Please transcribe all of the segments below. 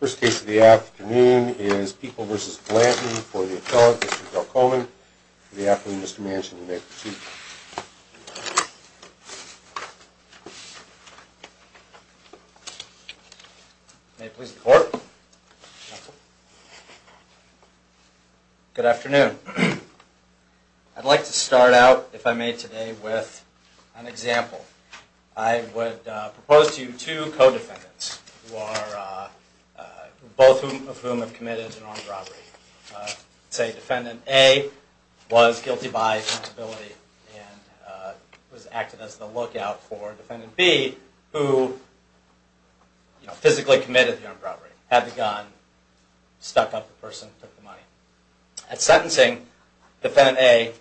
First case of the afternoon is People v. Blanton for the appellate, Mr. Bill Coleman. Good afternoon, Mr. Manchin. You may proceed. May it please the court. Good afternoon. I'd like to start out, if I may today, with an example. I would propose to you two co-defendants, both of whom have committed an armed robbery. Say defendant A was guilty by accountability and was acted as the lookout for defendant B, who physically committed the armed robbery, had the gun, stuck up the person, took the money. At sentencing, defendant A,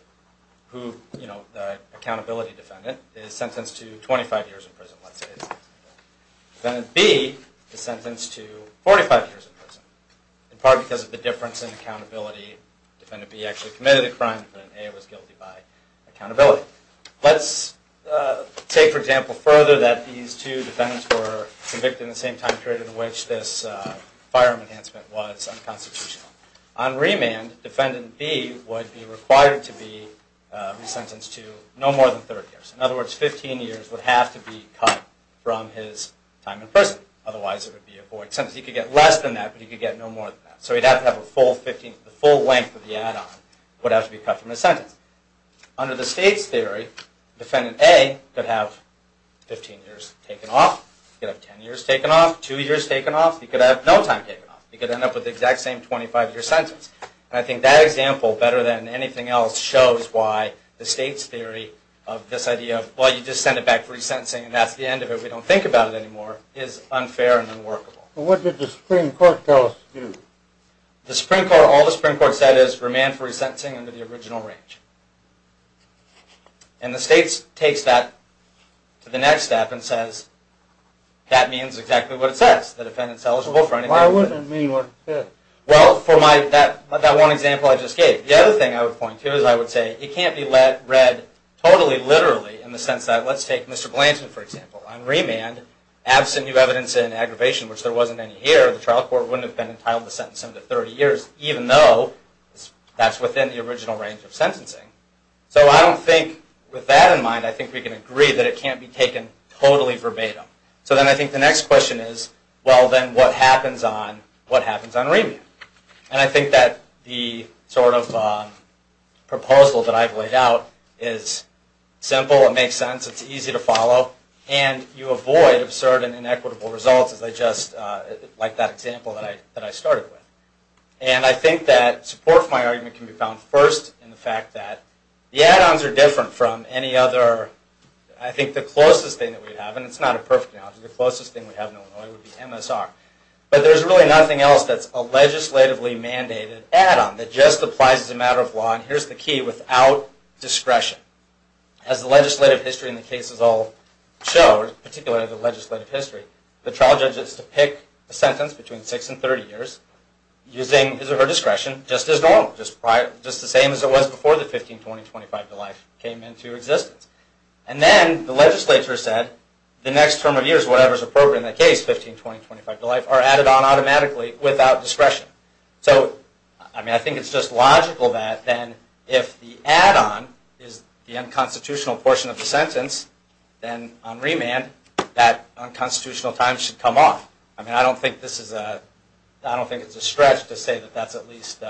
the accountability defendant, is sentenced to 25 years in prison. Defendant B is sentenced to 45 years in prison, in part because of the difference in accountability. Defendant B actually committed the crime. Defendant A was guilty by accountability. Let's take for example further that these two defendants were convicted at the same time period in which this firearm enhancement was unconstitutional. On remand, defendant B would be required to be sentenced to no more than 30 years. In other words, 15 years would have to be cut from his time in prison. Otherwise, it would be a void sentence. He could get less than that, but he could get no more than that. So he'd have to have a full length of the add-on that would have to be cut from his sentence. Under the state's theory, defendant A could have 15 years taken off. He could have 10 years taken off. Two years taken off. He could have no time taken off. He could end up with the exact same 25-year sentence. I think that example, better than anything else, shows why the state's theory of this idea of, well, you just send it back for resentencing and that's the end of it, we don't think about it anymore, is unfair and unworkable. What did the Supreme Court tell us to do? All the Supreme Court said is remand for resentencing under the original range. And the state takes that to the next step and says, that means exactly what it says. The defendant's eligible for anything. Why wouldn't it mean what it says? Well, for that one example I just gave. The other thing I would point to is I would say, it can't be read totally literally in the sense that, let's take Mr. Blanton, for example. On remand, absent new evidence in aggravation, which there wasn't any here, the trial court wouldn't have been entitled to sentence him to 30 years, even though that's within the original range of sentencing. So I don't think, with that in mind, I think we can agree that it can't be taken totally verbatim. So then I think the next question is, well, then what happens on remand? And I think that the sort of proposal that I've laid out is simple, it makes sense, it's easy to follow, and you avoid absurd and inequitable results, like that example that I started with. And I think that support for my argument can be found first in the fact that the add-ons are different from any other, I think the closest thing that we have, and it's not a perfect analogy, the closest thing we have in Illinois would be MSR. But there's really nothing else that's a legislatively mandated add-on that just applies as a matter of law, and here's the key, without discretion. As the legislative history and the cases all show, particularly the legislative history, the trial judge has to pick a sentence between 6 and 30 years, using his or her discretion, just as normal, just the same as it was before the 15, 20, 25 to life came into existence. And then the legislature said, the next term of years, whatever's appropriate in that case, 15, 20, 25 to life, are added on automatically without discretion. So, I mean, I think it's just logical that then, if the add-on is the unconstitutional portion of the sentence, then on remand, that unconstitutional time should come off. I mean, I don't think this is a, I don't think it's a stretch to say that that's at least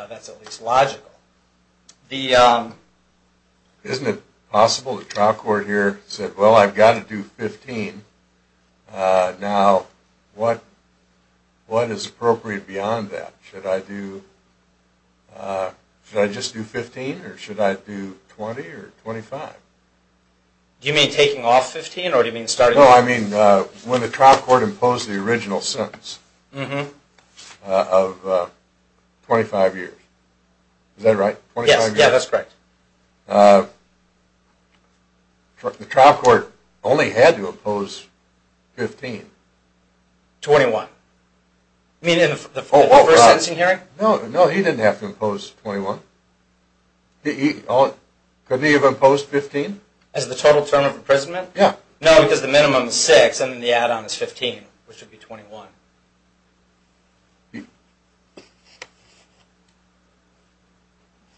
logical. Isn't it possible the trial court here said, well, I've got to do 15, now what is appropriate beyond that? Should I do, should I just do 15, or should I do 20 or 25? Do you mean taking off 15, or do you mean starting off? No, I mean, when the trial court imposed the original sentence of 25 years, is that right? Yes, yeah, that's correct. The trial court only had to impose 15. 21. You mean in the first sentencing hearing? No, no, he didn't have to impose 21. Couldn't he have imposed 15? As the total term of imprisonment? Yeah. No, because the minimum is 6, and then the add-on is 15, which would be 21. Yeah.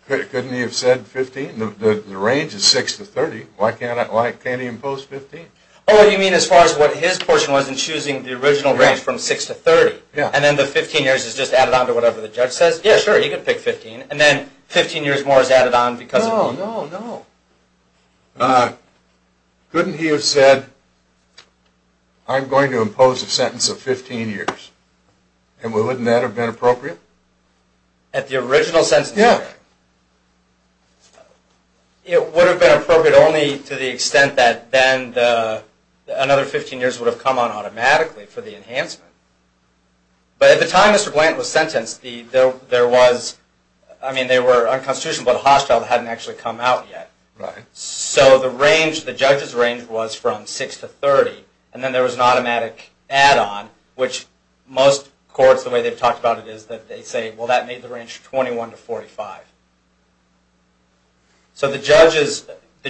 Couldn't he have said 15? The range is 6 to 30. Why can't he impose 15? Oh, you mean as far as what his portion was in choosing the original range from 6 to 30? Yeah. And then the 15 years is just added on to whatever the judge says? Yeah, sure. He could pick 15, and then 15 years more is added on because of... No, no, no. Couldn't he have said, I'm going to impose a sentence of 15 years, and wouldn't that have been appropriate? At the original sentencing hearing? Yeah. It would have been appropriate only to the extent that then another 15 years would have come on automatically for the enhancement. But at the time Mr. Blanton was sentenced, there was... I mean, they were unconstitutional, but a hostile hadn't actually come out yet. Right. So the judge's range was from 6 to 30, and then there was an automatic add-on, which most courts, the way they've talked about it, is that they say, well, that made the range 21 to 45. So if the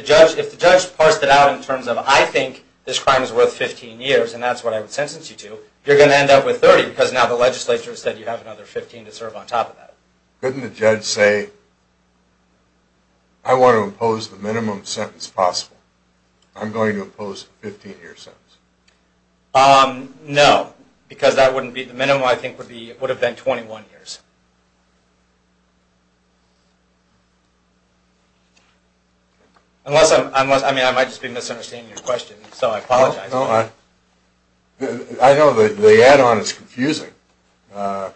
judge parsed it out in terms of, I think this crime is worth 15 years, and that's what I would sentence you to, you're going to end up with 30, because now the legislature said you have another 15 to serve on top of that. Couldn't the judge say, I want to impose the minimum sentence possible. I'm going to impose a 15-year sentence. No, because that wouldn't be... the minimum, I think, would have been 21 years. Unless I'm... I mean, I might just be misunderstanding your question, so I apologize. I know the add-on is confusing, and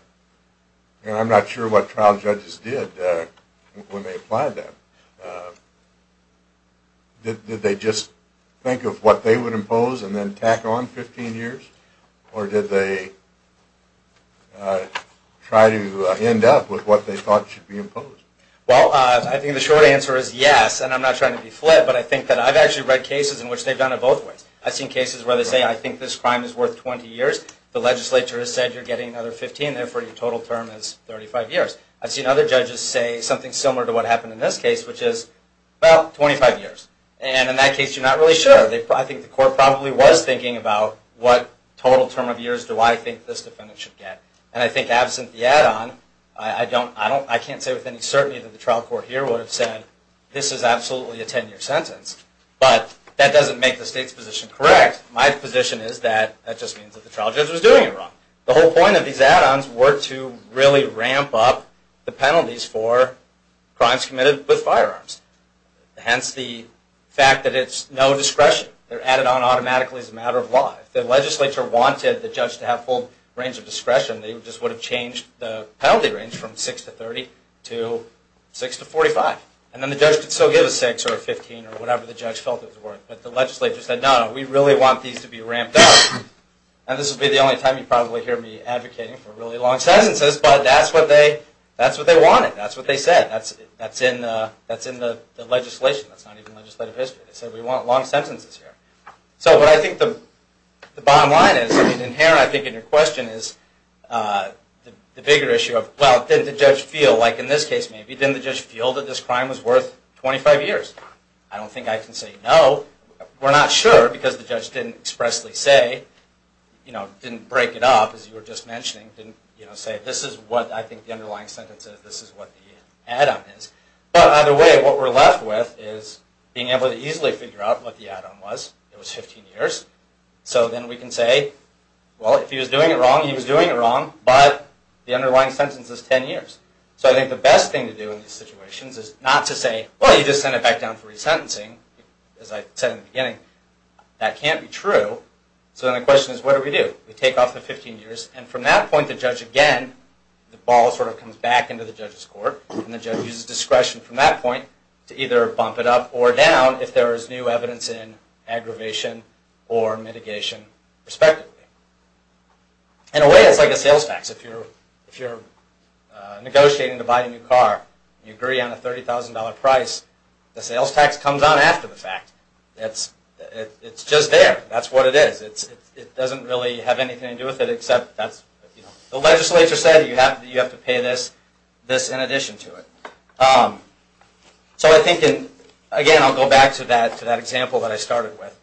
I'm not sure what trial judges did when they applied that. Did they just think of what they would impose and then tack on 15 years, or did they try to end up with what they thought should be imposed? Well, I think the short answer is yes, and I'm not trying to be flit, but I think that I've actually read cases in which they've done it both ways. I've seen cases where they say, I think this crime is worth 20 years, the legislature has said you're getting another 15, therefore your total term is 35 years. I've seen other judges say something similar to what happened in this case, which is, well, 25 years. And in that case, you're not really sure. I think the court probably was thinking about what total term of years do I think this defendant should get. And I think absent the add-on, I can't say with any certainty that the trial court here would have said, this is absolutely a 10-year sentence, but that doesn't make the state's position correct. My position is that that just means that the trial judge was doing it wrong. The whole point of these add-ons were to really ramp up the penalties for crimes committed with firearms. Hence the fact that it's no discretion. They're added on automatically as a matter of law. If the legislature wanted the judge to have full range of discretion, they just would have changed the penalty range from 6 to 30 to 6 to 45. And then the judge could still give a 6 or a 15 or whatever the judge felt it was worth. But the legislature said, no, no, we really want these to be ramped up. And this will be the only time you probably hear me advocating for really long sentences, but that's what they wanted. That's what they said. That's in the legislation. That's not even legislative history. They said, we want long sentences here. So what I think the bottom line is, I mean, inherently I think in your question is the bigger issue of, well, didn't the judge feel, like in this case maybe, didn't the judge feel that this crime was worth 25 years? I don't think I can say no. We're not sure because the judge didn't expressly say, you know, didn't break it up as you were just mentioning, didn't say this is what I think the underlying sentence is, this is what the add-on is. But either way, what we're left with is being able to easily figure out what the add-on was. It was 15 years. So then we can say, well, if he was doing it wrong, he was doing it wrong, but the underlying sentence is 10 years. So I think the best thing to do in these situations is not to say, well, you just send it back down for resentencing. As I said in the beginning, that can't be true. So then the question is, what do we do? We take off the 15 years, and from that point the judge again, the ball sort of comes back into the judge's court, and the judge uses discretion from that point to either bump it up or down if there is new evidence in aggravation or mitigation respectively. In a way, it's like a sales tax. If you're negotiating to buy a new car and you agree on a $30,000 price, the sales tax comes on after the fact. It's just there. That's what it is. It doesn't really have anything to do with it except that's, you know, the legislature said you have to pay this in addition to it. So I think, again, I'll go back to that example that I started with.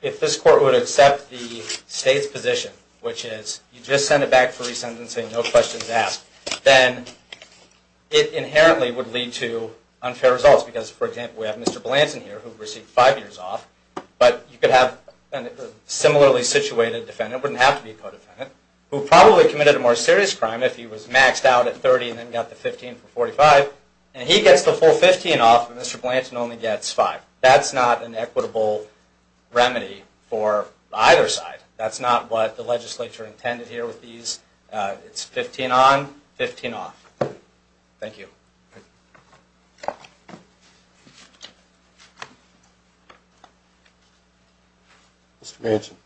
If this court would accept the state's position, which is you just send it back for resentencing, no questions asked, then it inherently would lead to unfair results because, for example, we have Mr. Blanton here who received five years off, but you could have a similarly situated defendant, it wouldn't have to be a co-defendant, who probably committed a more serious crime if he was maxed out at 30 and then got the 15 for 45, and he gets the full 15 off and Mr. Blanton only gets five. That's not an equitable remedy for either side. That's not what the legislature intended here with these. It's 15 on, 15 off. Thank you. Mr. Manson.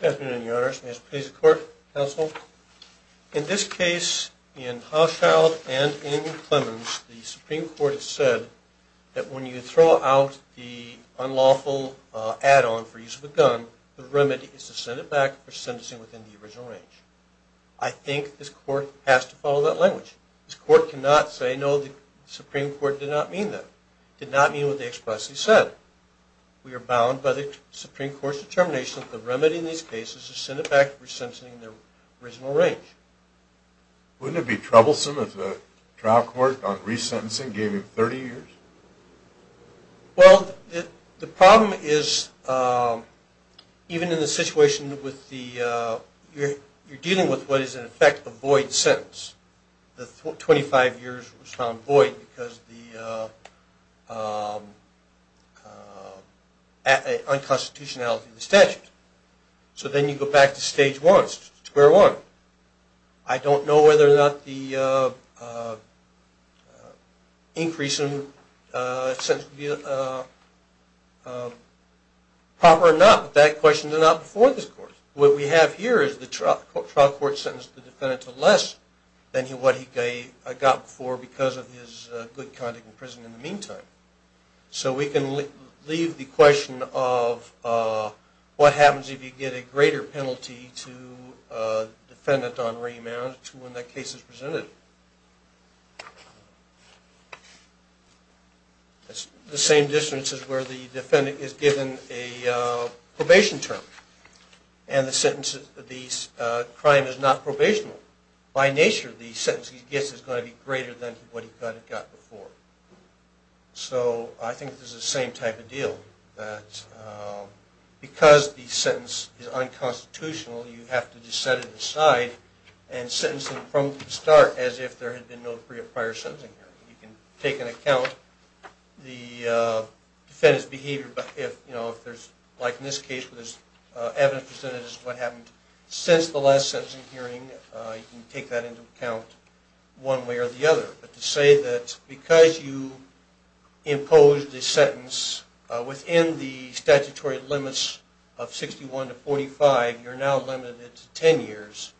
Good afternoon, Your Honors. May this please the Court, Counsel. In this case, in Hochschild and in Clemens, the Supreme Court has said that when you throw out the unlawful add-on for use of a gun, the remedy is to send it back for sentencing within the original range. I think this court has to follow that language. This court cannot say, no, the Supreme Court did not mean that, did not mean what they expressly said. We are bound by the Supreme Court's determination that the remedy in these cases is to send it back for sentencing in the original range. Wouldn't it be troublesome if the trial court on resentencing gave him 30 years? Well, the problem is even in the situation with the, you're dealing with what is in effect a void sentence. The 25 years was found void because the unconstitutionality of the statute. So then you go back to stage one, square one. I don't know whether or not the increase in sentencing would be proper or not, but that question is not before this court. What we have here is the trial court sentenced the defendant to less than what he got before because of his good conduct in prison in the meantime. So we can leave the question of what happens if you get a greater penalty to a defendant on remand to when that case is presented. It's the same distance as where the defendant is given a probation term and the sentence, the crime is not probation. By nature, the sentence he gets is going to be greater than what he got before. So I think this is the same type of deal, that because the sentence is unconstitutional, you have to just set it aside and sentence him from the start as if there had been no prior sentencing hearing. You can take into account the defendant's behavior, but if there's, like in this case, where there's evidence presented as to what happened since the last sentencing hearing, you can take that into account one way or the other. But to say that because you imposed the sentence within the statutory limits of 61 to 45, you're now limited to 10 years,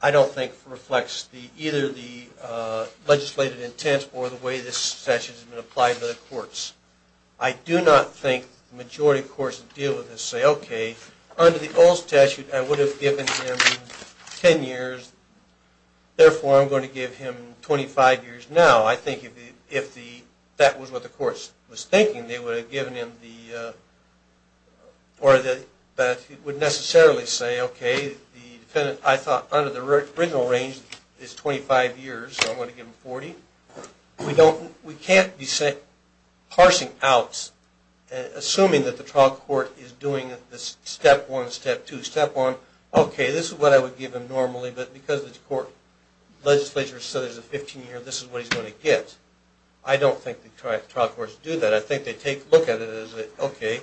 I don't think reflects either the legislative intent or the way this statute has been applied to the courts. I do not think the majority of courts that deal with this say, okay, under the old statute I would have given him 10 years, therefore I'm going to give him 25 years now. I think if that was what the court was thinking, they would have given him the, or would necessarily say, okay, the defendant I thought under the original range is 25 years, so I'm going to give him 40. We can't be parsing out, assuming that the trial court is doing this step one, step two, step one, okay, this is what I would give him normally, but because the court legislature said there's a 15-year, this is what he's going to get. I don't think the trial courts do that. I think they take a look at it as, okay,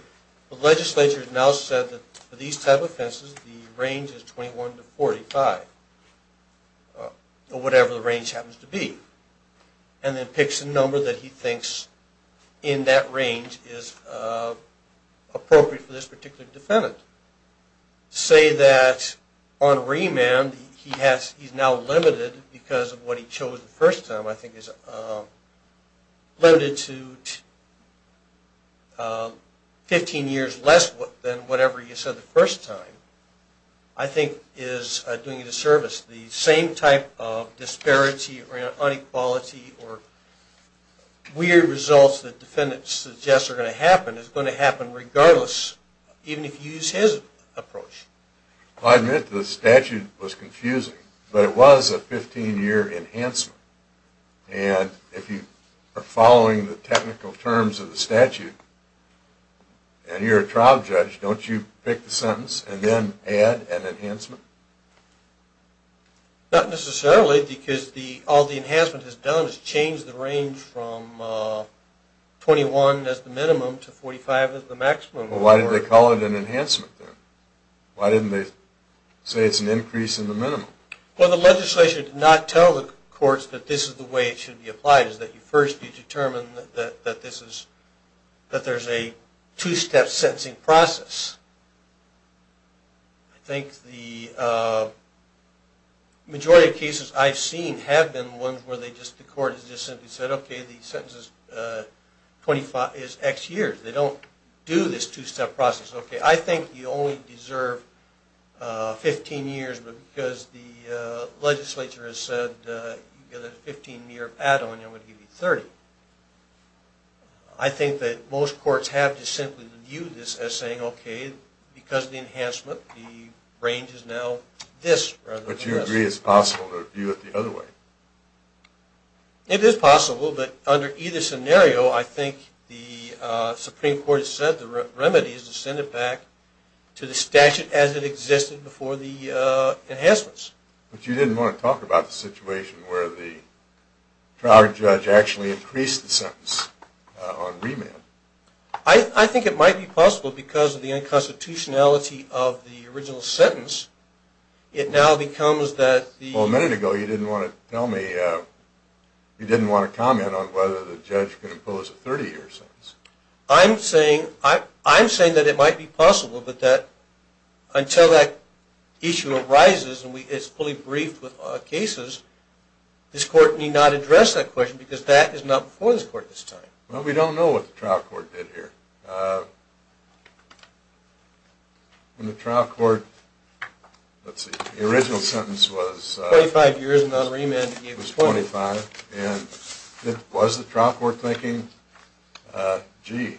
the legislature has now said that for these type of offenses the range is 21 to 45, or whatever the range happens to be, and then picks a number that he thinks in that range is appropriate for this particular defendant. To say that on remand he's now limited because of what he chose the first time I think is limited to 15 years less than whatever he said the first time I think is doing a disservice. The same type of disparity or inequality or weird results that the defendant suggests are going to happen is going to happen regardless, even if you use his approach. I admit the statute was confusing, but it was a 15-year enhancement, and if you are following the technical terms of the statute and you're a trial judge, don't you pick the sentence and then add an enhancement? Not necessarily because all the enhancement has done is changed the range from 21 as the minimum to 45 as the maximum. Why did they call it an enhancement then? Why didn't they say it's an increase in the minimum? Well, the legislation did not tell the courts that this is the way it should be applied, is that you first determine that there's a two-step sentencing process. I think the majority of cases I've seen have been ones where the court has just simply said, okay, the sentence is X years. They don't do this two-step process. Okay, I think you only deserve 15 years, but because the legislature has said you get a 15-year add-on, I'm going to give you 30. I think that most courts have just simply viewed this as saying, okay, because of the enhancement, the range is now this rather than this. But you agree it's possible to view it the other way? It is possible, but under either scenario, I think the Supreme Court has said the remedy is to send it back to the statute as it existed before the enhancements. But you didn't want to talk about the situation where the trial judge actually increased the sentence on remand. I think it might be possible because of the unconstitutionality of the Well, a minute ago you didn't want to comment on whether the judge could impose a 30-year sentence. I'm saying that it might be possible, but that until that issue arises and it's fully briefed with cases, this court need not address that question because that is not before this court this time. Well, we don't know what the trial court did here. When the trial court, let's see, the original sentence was 25 years and not remand. It was 25, and was the trial court thinking, gee,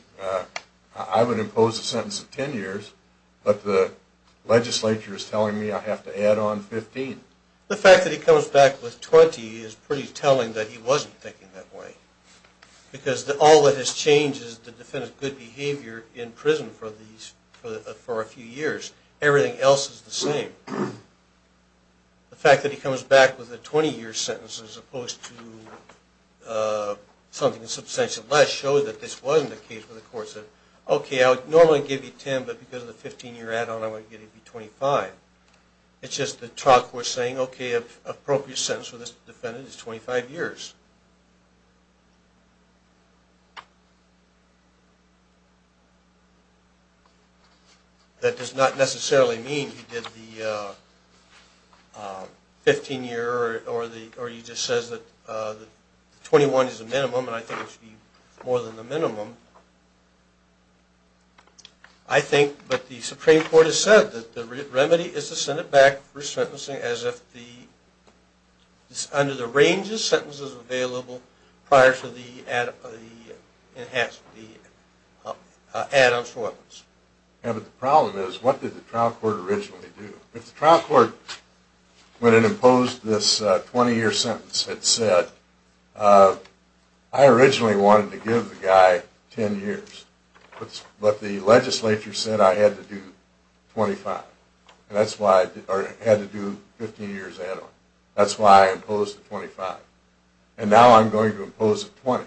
I would impose a sentence of 10 years, but the legislature is telling me I have to add on 15. The fact that he comes back with 20 is pretty telling that he wasn't thinking that way. Because all that has changed is the defendant's good behavior in prison for a few years. Everything else is the same. The fact that he comes back with a 20-year sentence as opposed to something substantially less showed that this wasn't the case where the court said, okay, I would normally give you 10, but because of the 15-year add-on, I'm going to give you 25. It's just the trial court saying, okay, an appropriate sentence for this is 25 years. That does not necessarily mean he did the 15-year or he just says that 21 is the minimum, and I think it should be more than the minimum. I think that the Supreme Court has said that the remedy is to send it back for sentencing as if it's under the range of sentences available prior to the add-on shortness. Yeah, but the problem is what did the trial court originally do? If the trial court, when it imposed this 20-year sentence, had said, I originally wanted to give the guy 10 years, but the legislature said I had to do 25. And that's why I had to do 15 years add-on. That's why I imposed the 25. And now I'm going to impose the 20.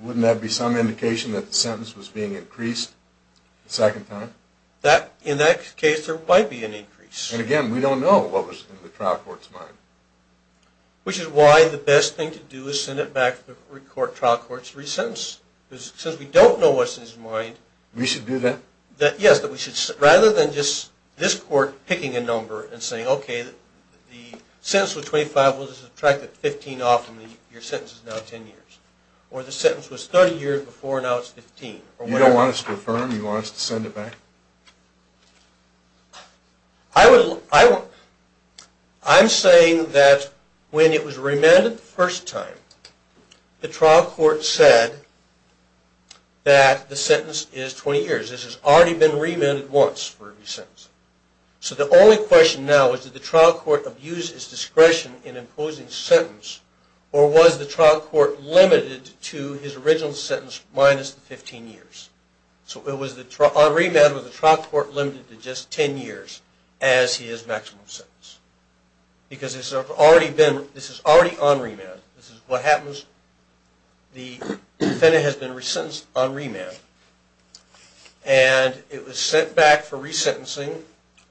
Wouldn't that be some indication that the sentence was being increased the second time? In that case, there might be an increase. And again, we don't know what was in the trial court's mind. Which is why the best thing to do is send it back to the trial court to resentence. Since we don't know what's in his mind. We should do that? Yes. Rather than just this court picking a number and saying, okay, the sentence was 25. We'll just subtract the 15 off and your sentence is now 10 years. Or the sentence was 30 years before and now it's 15. You don't want us to affirm? You want us to send it back? I'm saying that when it was remanded the first time, the trial court said that the sentence is 20 years. This has already been remanded once for a resentence. So the only question now is did the trial court abuse its discretion in imposing sentence? Or was the trial court limited to his original sentence minus the 15 years? So on remand, was the trial court limited to just 10 years as he has maximum sentence? Because this is already on remand. This is what happens. The defendant has been resentenced on remand. And it was sent back for resentencing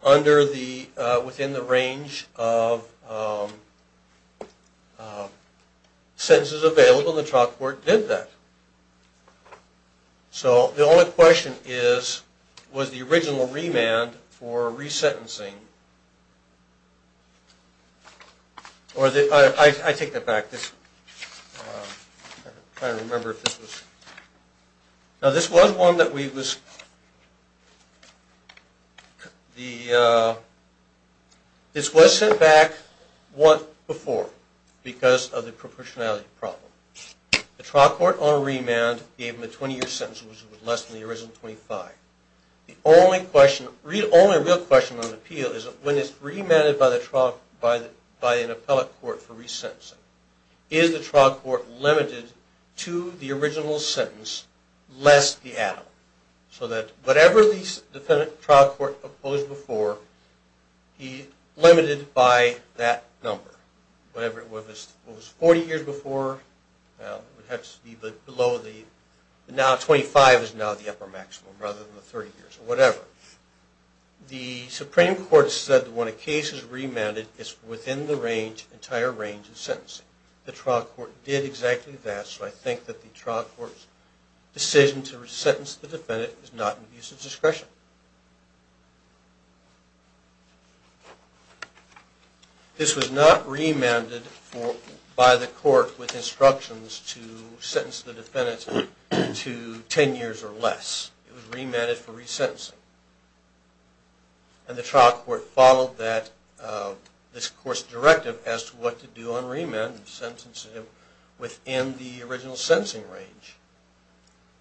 within the range of sentences available. The trial court did that. So the only question is, was the original remand for resentencing? I take that back. I'm trying to remember if this was. No, this was one that we was. This was sent back once before because of the proportionality problem. The trial court on remand gave him a 20-year sentence, which was less than the original 25. The only real question on the appeal is when it's remanded by an appellate court for resentencing, is the trial court limited to the original sentence less the add-on? So that whatever the defendant trial court opposed before, he limited by that number. Whatever it was, it was 40 years before, it would have to be below the, now 25 is now the upper maximum rather than the 30 years or whatever. The Supreme Court said when a case is remanded, it's within the entire range of sentencing. The trial court did exactly that, so I think that the trial court's decision to resentence the defendant is not an abuse of discretion. This was not remanded by the court with instructions to sentence the defendant to 10 years or less. It was remanded for resentencing. And the trial court followed that, this court's directive as to what to do on remand and sentencing it within the original sentencing range.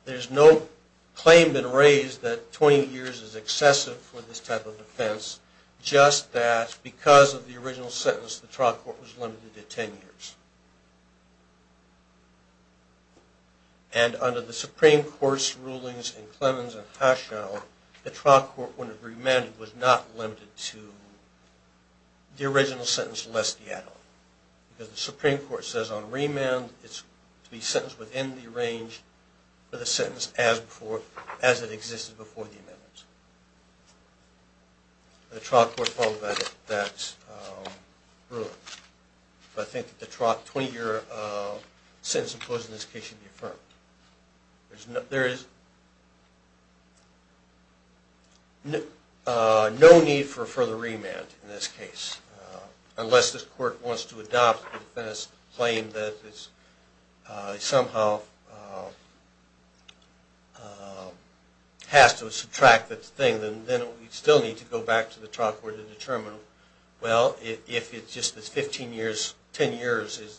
There's no claim that raised that 20 years or less, 20 years is excessive for this type of offense, just that because of the original sentence, the trial court was limited to 10 years. And under the Supreme Court's rulings in Clemens and Heschel, the trial court, when it remanded, was not limited to the original sentence less the add-on. Because the Supreme Court says on remand, it's to be sentenced within the range of the sentence as it existed before the amendments. The trial court followed that rule. But I think that the trial 20-year sentence imposed in this case should be affirmed. There is no need for further remand in this case, unless this court wants to adopt the defendant's claim that it somehow has to subtract that thing. Then we still need to go back to the trial court and determine, well, if it's just this 15 years, 10 years,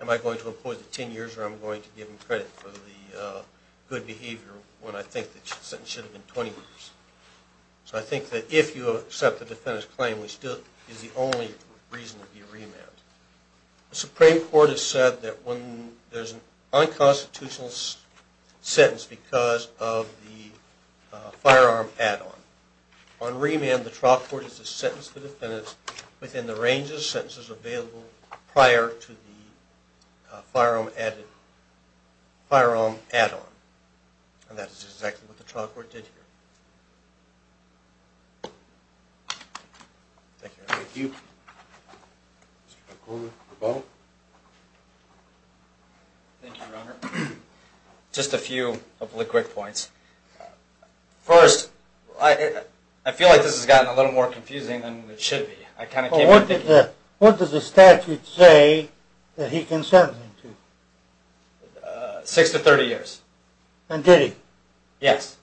am I going to employ the 10 years or am I going to give them credit for the good behavior when I think the sentence should have been 20 years? So I think that if you accept the defendant's claim, it still is the only reason to be remanded. The Supreme Court has said that there's an unconstitutional sentence because of the firearm add-on. On remand, the trial court is to sentence the defendant within the range of sentences available prior to the firearm add-on. And that is exactly what the trial court did here. Thank you, Your Honor. Thank you. Mr. McCormick, the vote. Thank you, Your Honor. Just a few of the quick points. First, I feel like this has gotten a little more confusing than it should be. What does the statute say that he consented to? Six to 30 years. And did he? Yes.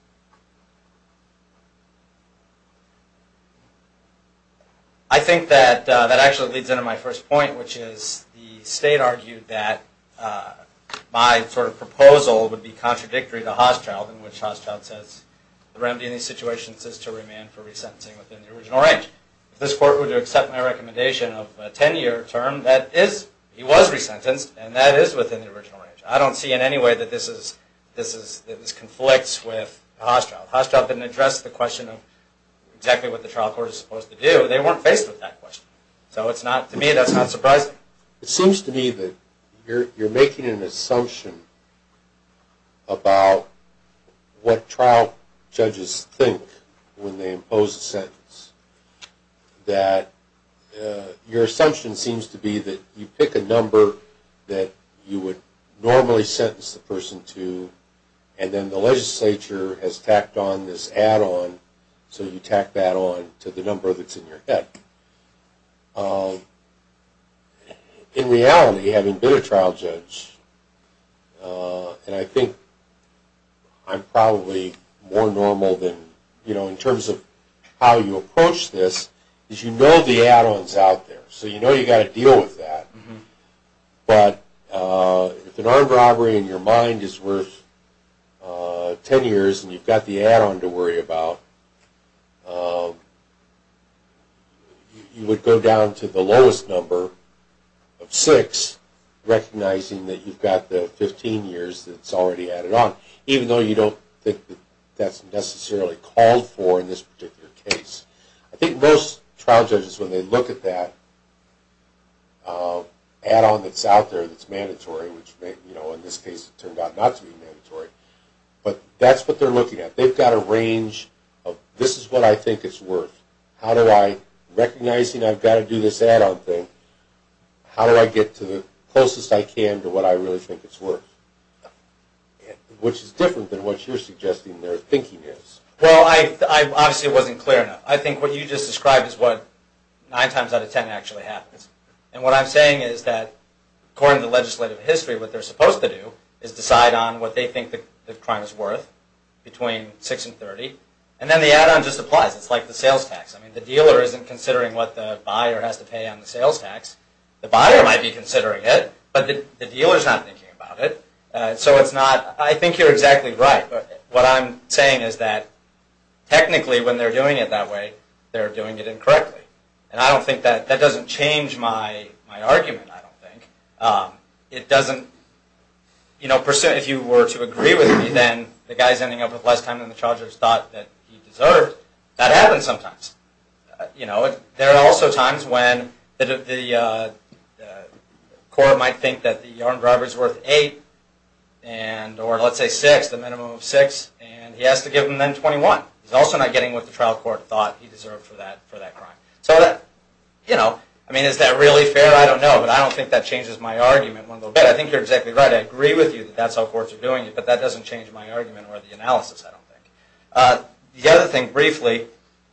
I think that that actually leads into my first point, which is the state argued that my sort of proposal would be contradictory to Hostroud, in which Hostroud says the remedy in these situations is to remand for resentencing within the original range. If this court were to accept my recommendation of a 10-year term, that is, he was resentenced, and that is within the original range. I don't see in any way that this conflicts with Hostroud. Hostroud didn't address the question of exactly what the trial court is supposed to do. They weren't faced with that question. So to me, that's not surprising. It seems to me that you're making an assumption about what trial judges think when they impose a sentence, that your assumption seems to be that you pick a number that you would normally sentence the person to, and then the legislature has tacked on this add-on, so you tack that on to the number that's in your head. In reality, having been a trial judge, and I think I'm probably more normal than, you know, in terms of how you approach this, is you know the add-ons out there. So you know you've got to deal with that. But if an armed robbery in your mind is worth 10 years and you've got the add-on to worry about, you would go down to the lowest number of six, recognizing that you've got the 15 years that's already added on, even though you don't think that that's necessarily called for in this particular case. I think most trial judges, when they look at that add-on that's out there that's mandatory, which in this case it turned out not to be mandatory, but that's what they're looking at. They've got a range of this is what I think it's worth. How do I, recognizing I've got to do this add-on thing, how do I get to the closest I can to what I really think it's worth, which is different than what you're suggesting their thinking is. Well, obviously it wasn't clear enough. I think what you just described is what 9 times out of 10 actually happens. And what I'm saying is that according to legislative history, what they're supposed to do is decide on what they think the crime is worth between 6 and 30, and then the add-on just applies. It's like the sales tax. I mean the dealer isn't considering what the buyer has to pay on the sales tax. The buyer might be considering it, but the dealer's not thinking about it. So it's not, I think you're exactly right. What I'm saying is that technically when they're doing it that way, they're doing it incorrectly. And I don't think that, that doesn't change my argument, I don't think. It doesn't, you know, if you were to agree with me, then the guy's ending up with less time than the chargers thought that he deserved. That happens sometimes. You know, there are also times when the court might think that the armed And he has to give him then 21. He's also not getting what the trial court thought he deserved for that crime. So that, you know, I mean is that really fair? I don't know, but I don't think that changes my argument one little bit. I think you're exactly right. I agree with you that that's how courts are doing it, but that doesn't change my argument or the analysis, I don't think. The other thing briefly,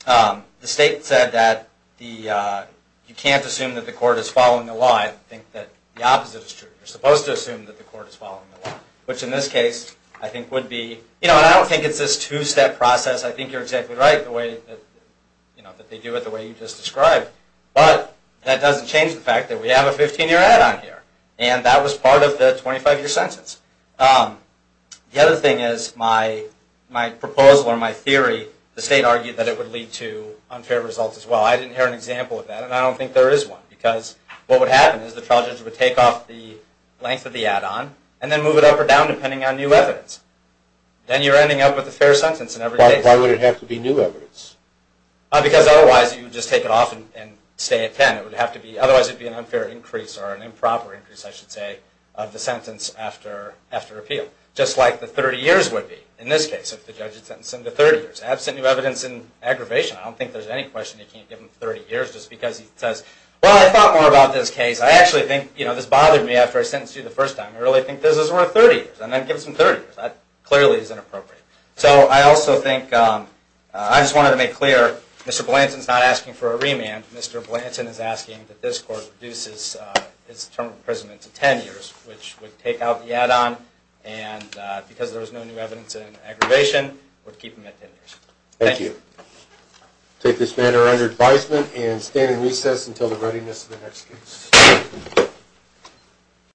the state said that you can't assume that the court is following the law. I think that the opposite is true. You're supposed to assume that the court is following the law, which in this case I think would be, you know, and I don't think it's this two-step process. I think you're exactly right the way that, you know, that they do it the way you just described. But that doesn't change the fact that we have a 15-year add-on here, and that was part of the 25-year sentence. The other thing is my proposal or my theory, the state argued that it would lead to unfair results as well. I didn't hear an example of that, and I don't think there is one, because what would happen is the trial judge would take off the length of the add-on and then move it up or down depending on new evidence. Then you're ending up with a fair sentence in every case. Why would it have to be new evidence? Because otherwise you would just take it off and stay at 10. It would have to be, otherwise it would be an unfair increase or an improper increase, I should say, of the sentence after appeal, just like the 30 years would be in this case if the judge had sentenced him to 30 years. Absent new evidence in aggravation, I don't think there's any question you can't give him 30 years just because he says, well, I thought more about this case. I actually think this bothered me after I sentenced you the first time. I really think this is worth 30 years, and then give him some 30 years. That clearly is inappropriate. So I also think I just wanted to make clear Mr. Blanton is not asking for a remand. Mr. Blanton is asking that this court reduce his term of imprisonment to 10 years, which would take out the add-on, and because there was no new evidence in aggravation, would keep him at 10 years. Thank you. I take this matter under advisement and stand in recess until the readiness of the next case.